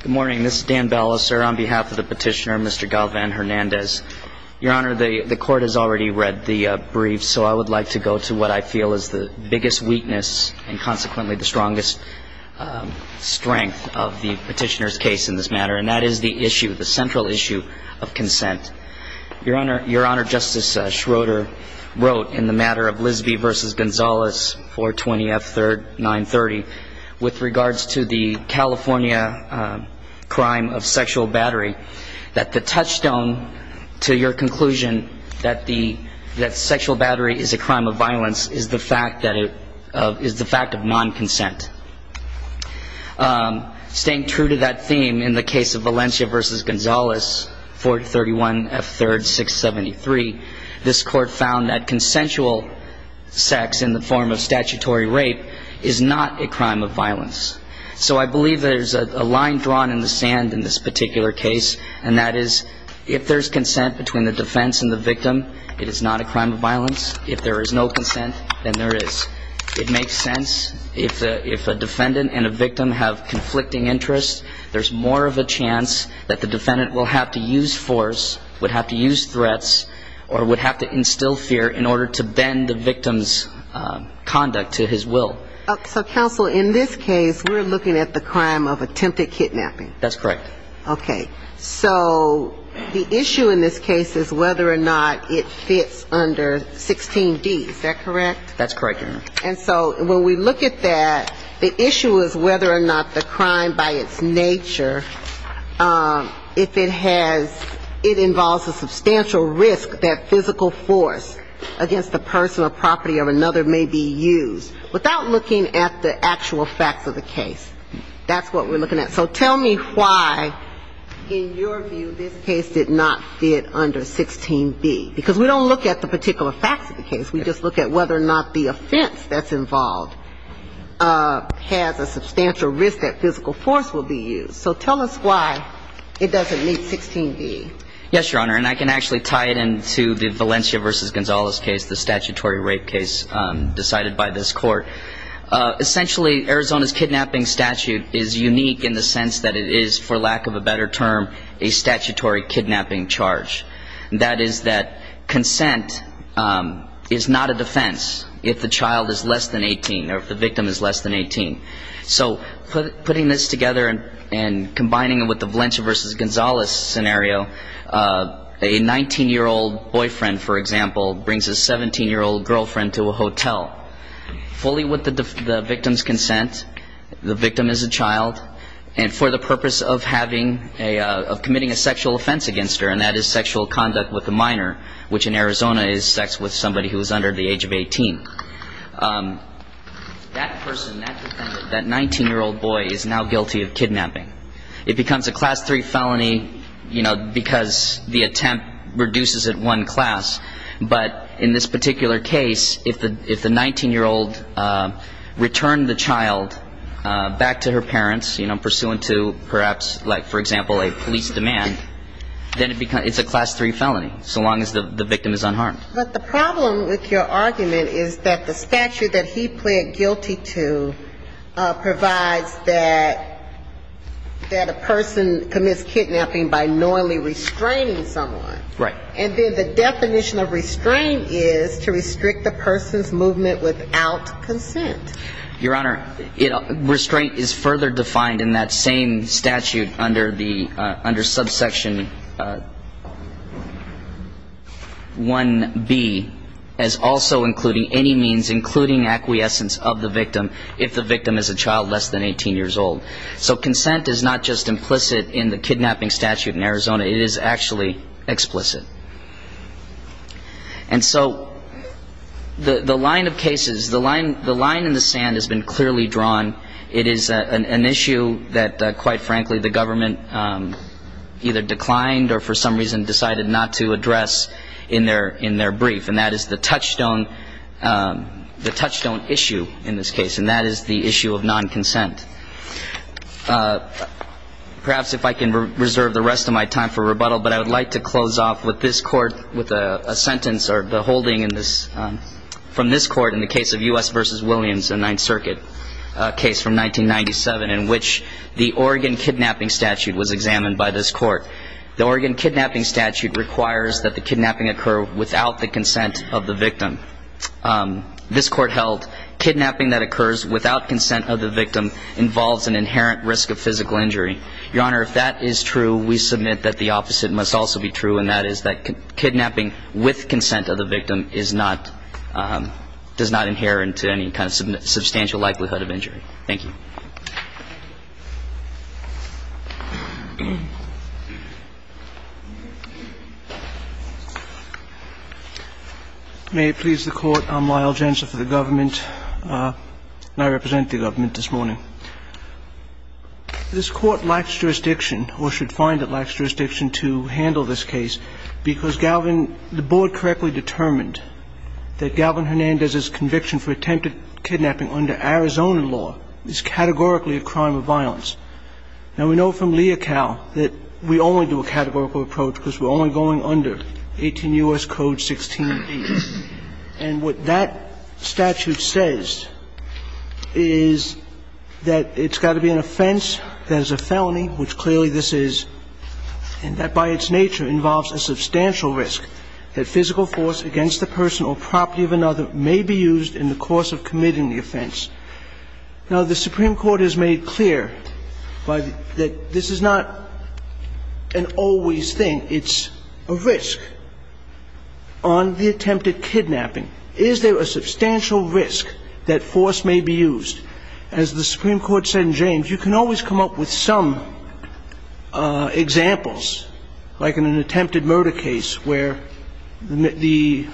Good morning. This is Dan Ballester on behalf of the petitioner, Mr. Galvan-Hernandez. Your Honor, the court has already read the brief, so I would like to go to what I feel is the biggest weakness and consequently the strongest strength of the petitioner's case in this matter, and that is the issue, the central issue of consent. Your Honor, Justice Schroeder wrote in the matter of Lisby v. Gonzales, 420 F. 930, with regards to the California crime of sexual battery, that the touchstone to your conclusion that sexual battery is a crime of violence is the fact of non-consent. Staying true to that theme, in the case of Valencia v. Gonzales, 431 F. 3rd, 673, this court found that consensual sex in the form of statutory rape is not a crime of violence. So I believe there's a line drawn in the sand in this particular case, and that is if there's consent between the defense and the victim, it is not a crime of violence. If there is no consent, then there is. It makes sense if a defendant and a victim have conflicting interests, there's more of a chance that the defendant will have to use force, would have to use threats, or would have to instill fear in order to bend the victim's conduct to his will. So, counsel, in this case, we're looking at the crime of attempted kidnapping. That's correct. Okay. So the issue in this case is whether or not it fits under 16D, is that correct? That's correct, Your Honor. And so when we look at that, the issue is whether or not the crime by its nature, if it has, it involves a substantial risk that physical force against the person or property of another may be used, without looking at the actual facts of the case. That's what we're looking at. So tell me why, in your view, this case did not fit under 16B, because we don't look at the particular facts of the case. We just look at whether or not the offense that's involved has a substantial risk that physical force will be used. So tell us why it doesn't meet 16B. Yes, Your Honor, and I can actually tie it into the Valencia v. Gonzalez case, the statutory rape case decided by this court. Essentially, Arizona's kidnapping statute is unique in the sense that it is, for lack of a better term, a statutory kidnapping charge. That is that consent is not a defense if the child is less than 18 or if the victim is less than 18. So putting this together and combining it with the Valencia v. Gonzalez scenario, a 19-year-old boyfriend, for example, brings a 17-year-old girlfriend to a hotel, fully with the victim's consent, the victim is a child, and for the purpose of having a, of committing a sexual offense against her, and that is sexual conduct with a minor, which in Arizona is sex with somebody who is under the age of 18. That person, that defendant, that 19-year-old boy is now guilty of kidnapping. It becomes a Class III felony, you know, because the attempt reduces it one class, but in this particular case, if the 19-year-old returned the child back to her parents, you know, pursuant to perhaps, like, for example, a police demand, then it's a Class III felony, so long as the victim is unharmed. But the problem with your argument is that the statute that he pled guilty to provides that a person commits kidnapping by knowingly restraining someone. Right. And then the definition of restrain is to restrict the person's movement without consent. Your Honor, restraint is further defined in that same statute under the, under subsection 1b of the statute. Subsection 1b is also including any means, including acquiescence of the victim, if the victim is a child less than 18 years old. So consent is not just implicit in the kidnapping statute in Arizona, it is actually explicit. And so the line of cases, the line in the sand has been clearly drawn. It is an issue that, quite frankly, the government either declined or for some reason decided not to address in their brief. And that is the touchstone, the touchstone issue in this case, and that is the issue of non-consent. Perhaps if I can reserve the rest of my time for rebuttal, but I would like to close off with this court with a sentence or the holding in this, from this court in the case of U.S. v. Williams in Ninth Circuit, a case from 1997 in which the Oregon kidnapping statute was examined by this court. The Oregon kidnapping statute requires that the kidnapping occur without the consent of the victim. This court held kidnapping that occurs without consent of the victim involves an inherent risk of physical injury. Your Honor, if that is true, we submit that the opposite must also be true, and that is that kidnapping with consent of the victim is not, does not inherit any kind of substantial likelihood of injury. Thank you. May it please the Court, I'm Lyle Jensen for the government, and I represent the government this morning. This court lacks jurisdiction or should find it lacks jurisdiction to handle this case because Galvin, the board correctly determined that Galvin Hernandez's conviction for attempted kidnapping under Arizona law is categorically a crime of violence. Now, we know from Leocal that we only do a categorical approach because we're only going under 18 U.S. Code 16d. And what that statute says is that it's got to be an offense that is a felony, which clearly this is, and that by its nature involves a substantial risk, that physical force against the person or property of another may be used in the course of committing the offense. Now, the Supreme Court has made clear that this is not an always thing. It's a risk on the attempted kidnapping. Is there a substantial risk that force may be used? As the Supreme Court said in James, you can always come up with some examples, like in an attempted murder case where the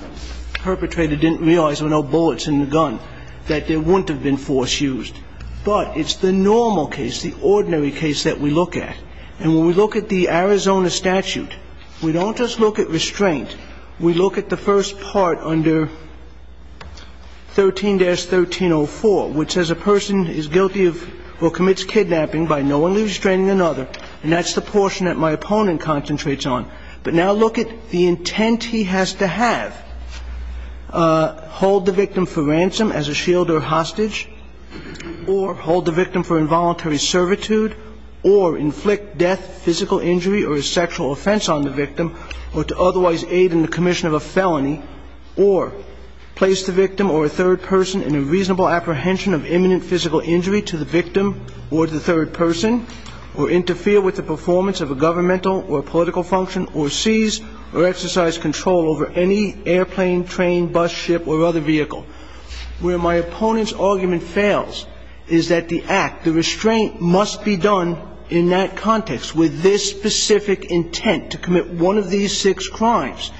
perpetrator didn't realize there were no bullets in the gun. There wouldn't have been force used. But it's the normal case, the ordinary case that we look at. And when we look at the Arizona statute, we don't just look at restraint. We look at the first part under 13-1304, which says a person is guilty of or commits kidnapping by knowingly restraining another, and that's the portion that my opponent concentrates on. But now look at the intent he has to have. Hold the victim for ransom as a shield or hostage, or hold the victim for involuntary servitude, or inflict death, physical injury, or a sexual offense on the victim, or to otherwise aid in the commission of a felony, or place the victim or a third person in a reasonable apprehension of imminent physical injury to the victim or to the third person, or interfere with the investigation. And that's the intent. And I'm not going to go into the specifics of restraint. I'm not going to go into the specifics of restraint over any airplane, train, bus, ship, or other vehicle. Where my opponent's argument fails is that the act, the restraint must be done in that context with this specific intent to commit one of these six crimes.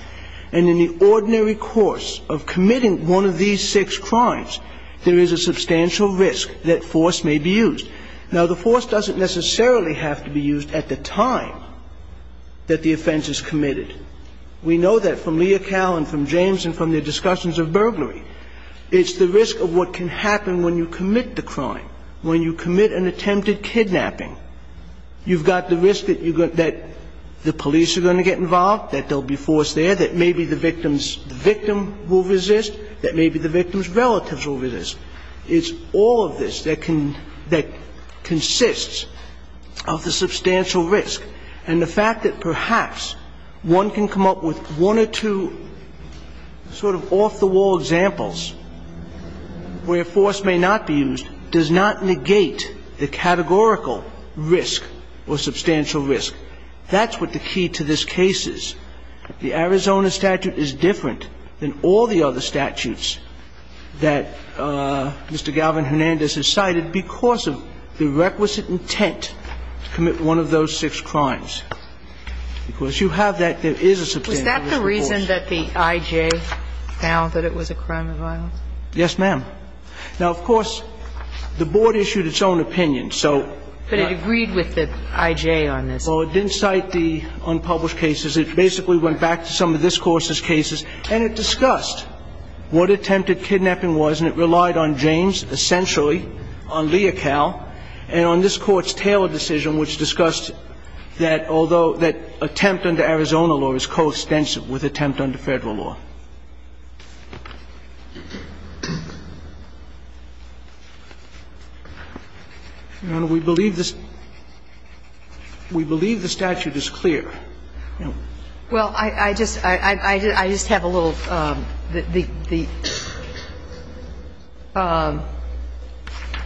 And in the ordinary course of the investigation, it's the risk of what can happen when you commit the crime, when you commit an attempted kidnapping. You've got the risk that the police are going to get involved, that they'll be forced there, that maybe the victim's victim will resist, that maybe the victim's relatives will resist. It's all of this that can ‑‑ that consists of the substantial risk. And the fact that perhaps one can come up with one or two sort of off‑the‑wall examples where force may not be used does not negate the categorical risk or substantial risk. That's what the key to this case is. The Arizona statute is different than all the other statutes that Mr. Galvin Hernandez has cited because of the requisite intent to commit one of those six crimes. Because you have that, there is a substantial risk. And the reason that the I.J. found that it was a crime of violence? Yes, ma'am. Now, of course, the board issued its own opinion, so ‑‑ But it agreed with the I.J. on this. Well, it didn't cite the unpublished cases. It basically went back to some of this Court's cases, and it discussed what attempted murder was and what was not. And it was a very comprehensive with attempt under Federal law. Your Honor, we believe this ‑‑ we believe the statute is clear. Well, I just have a little ‑‑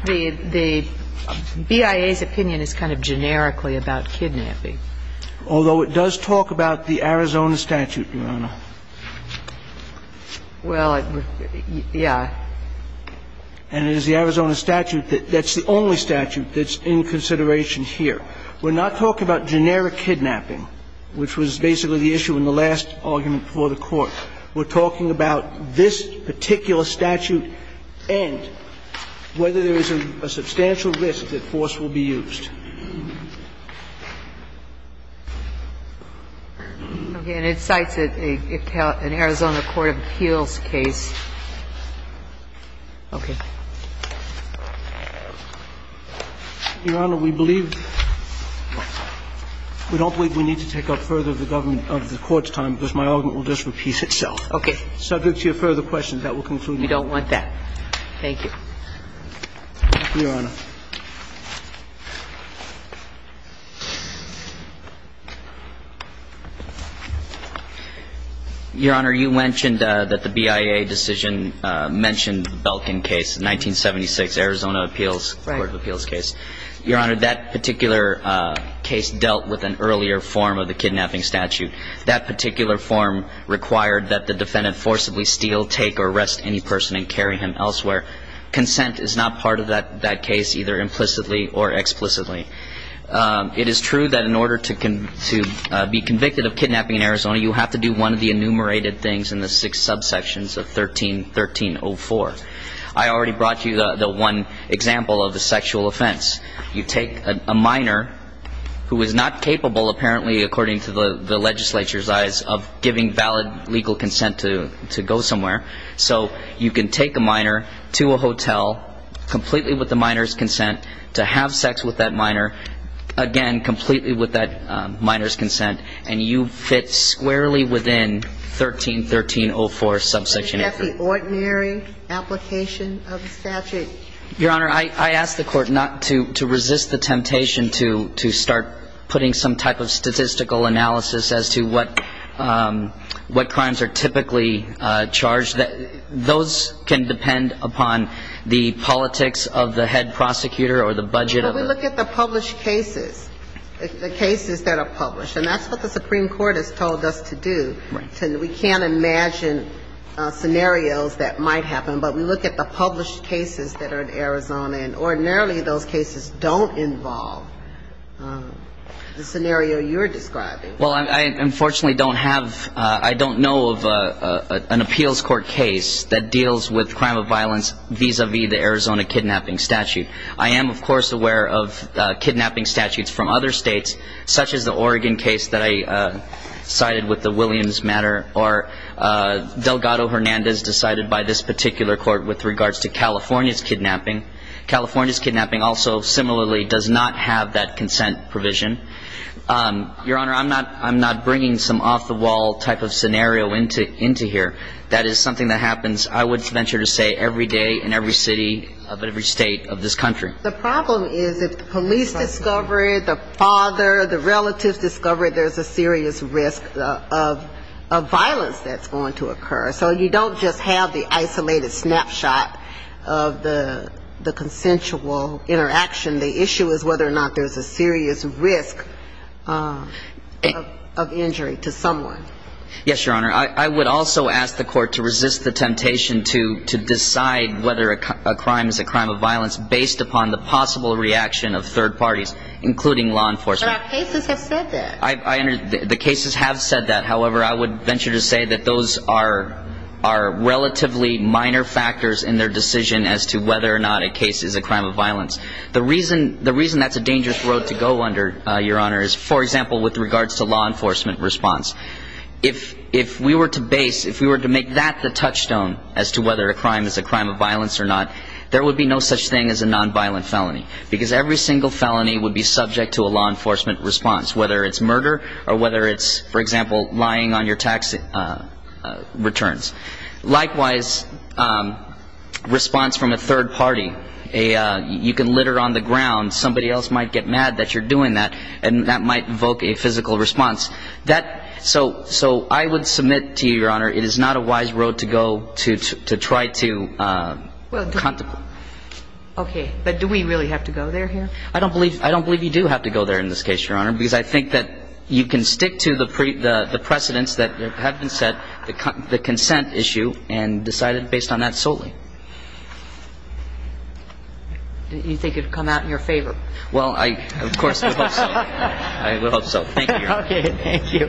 the BIA's opinion is kind of generically about kidnapping. Well, it was ‑‑ yeah. And it is the Arizona statute that's the only statute that's in consideration here. We're not talking about generic kidnapping, which was basically the issue in the last argument before the Court. We're talking about this particular statute and whether there is a substantial risk that force will be used. Okay. And it cites an Arizona court of appeals case. Okay. Your Honor, we believe ‑‑ we don't believe we need to take up further the government of the Court's time, because my argument will just repeat itself. Okay. Subject to your further questions, that will conclude the hearing. You don't want that. Thank you. Your Honor. Your Honor, you mentioned that the BIA decision mentioned the Belkin case, the 1976 Arizona appeals court of appeals case. Your Honor, that particular case dealt with an earlier form of the kidnapping statute. That particular form required that the defendant forcibly steal, take or arrest any person and carry him elsewhere. Consent is not part of that case, either implicitly or explicitly. It is true that in order to be convicted of kidnapping in Arizona, you have to do one of the enumerated things in the six subsections of 13‑1304. I already brought you the one example of the sexual offense. You take a minor who is not capable, apparently, according to the legislature's eyes, of giving valid legal consent to go somewhere. So you can take a minor to a hotel, completely with the minor's consent, to have sex with that minor, again, completely with that minor's consent, and you fit squarely within 13‑1304 subsection 8. And that's the ordinary application of the statute. Your Honor, I ask the Court not to resist the temptation to start putting some type of statistical analysis as to what crimes are typically charged. Those can depend upon the politics of the head prosecutor or the budget of the ‑‑ But we look at the published cases, the cases that are published, and that's what the Supreme Court has told us to do. We can't imagine scenarios that might happen. But we look at the published cases that are in Arizona, and ordinarily those cases don't involve the scenario you're describing. Well, I unfortunately don't have ‑‑ I don't know of an appeals court case that deals with crime of violence vis‑a‑vis the Arizona kidnapping statute. I am, of course, aware of kidnapping statutes from other states, such as the Oregon case that I cited with the Williams Court. And I'm aware of the California case that I cited with the California kidnapping statute. But I'm not aware of any other case that deals with kidnapping of a child in this matter, or Delgado Hernandez decided by this particular court with regards to California's kidnapping. California's kidnapping also similarly does not have that consent provision. Your Honor, I'm not bringing some off‑the‑wall type of scenario into here. That is something that happens, I would venture to say, every day in every city of every state of this country. The problem is if the police discover it, the father, the relatives discover it, there's a serious risk of violence that's going to occur. So you don't just have the isolated snapshot of the consensual interaction. The issue is whether or not there's a serious risk of injury to someone. Yes, Your Honor, I would also ask the court to resist the temptation to decide whether a crime is a crime of violence based upon the possible reaction of third parties, including law enforcement. But our cases have said that. The cases have said that. However, I would venture to say that those are relatively minor factors in their decision as to whether or not a case is a crime of violence. The reason that's a dangerous road to go under, Your Honor, is, for example, with regards to law enforcement response. If we were to base, if we were to make that the touchstone as to whether a crime is a crime of violence or not, there would be no such thing as a physical response. There would be no response from a third party. You can litter on the ground. Somebody else might get mad that you're doing that, and that might evoke a physical response. So I would submit to you, Your Honor, it is not a wise road to go to try to contemplate. Okay. But do we really have to go there here? I don't believe you do have to go there in this case, Your Honor, because I think that you can stick to the precedents that have been set, the consent issue, and decide based on that solely. You think it would come out in your favor? Well, I, of course, would hope so. I would hope so. Thank you, Your Honor.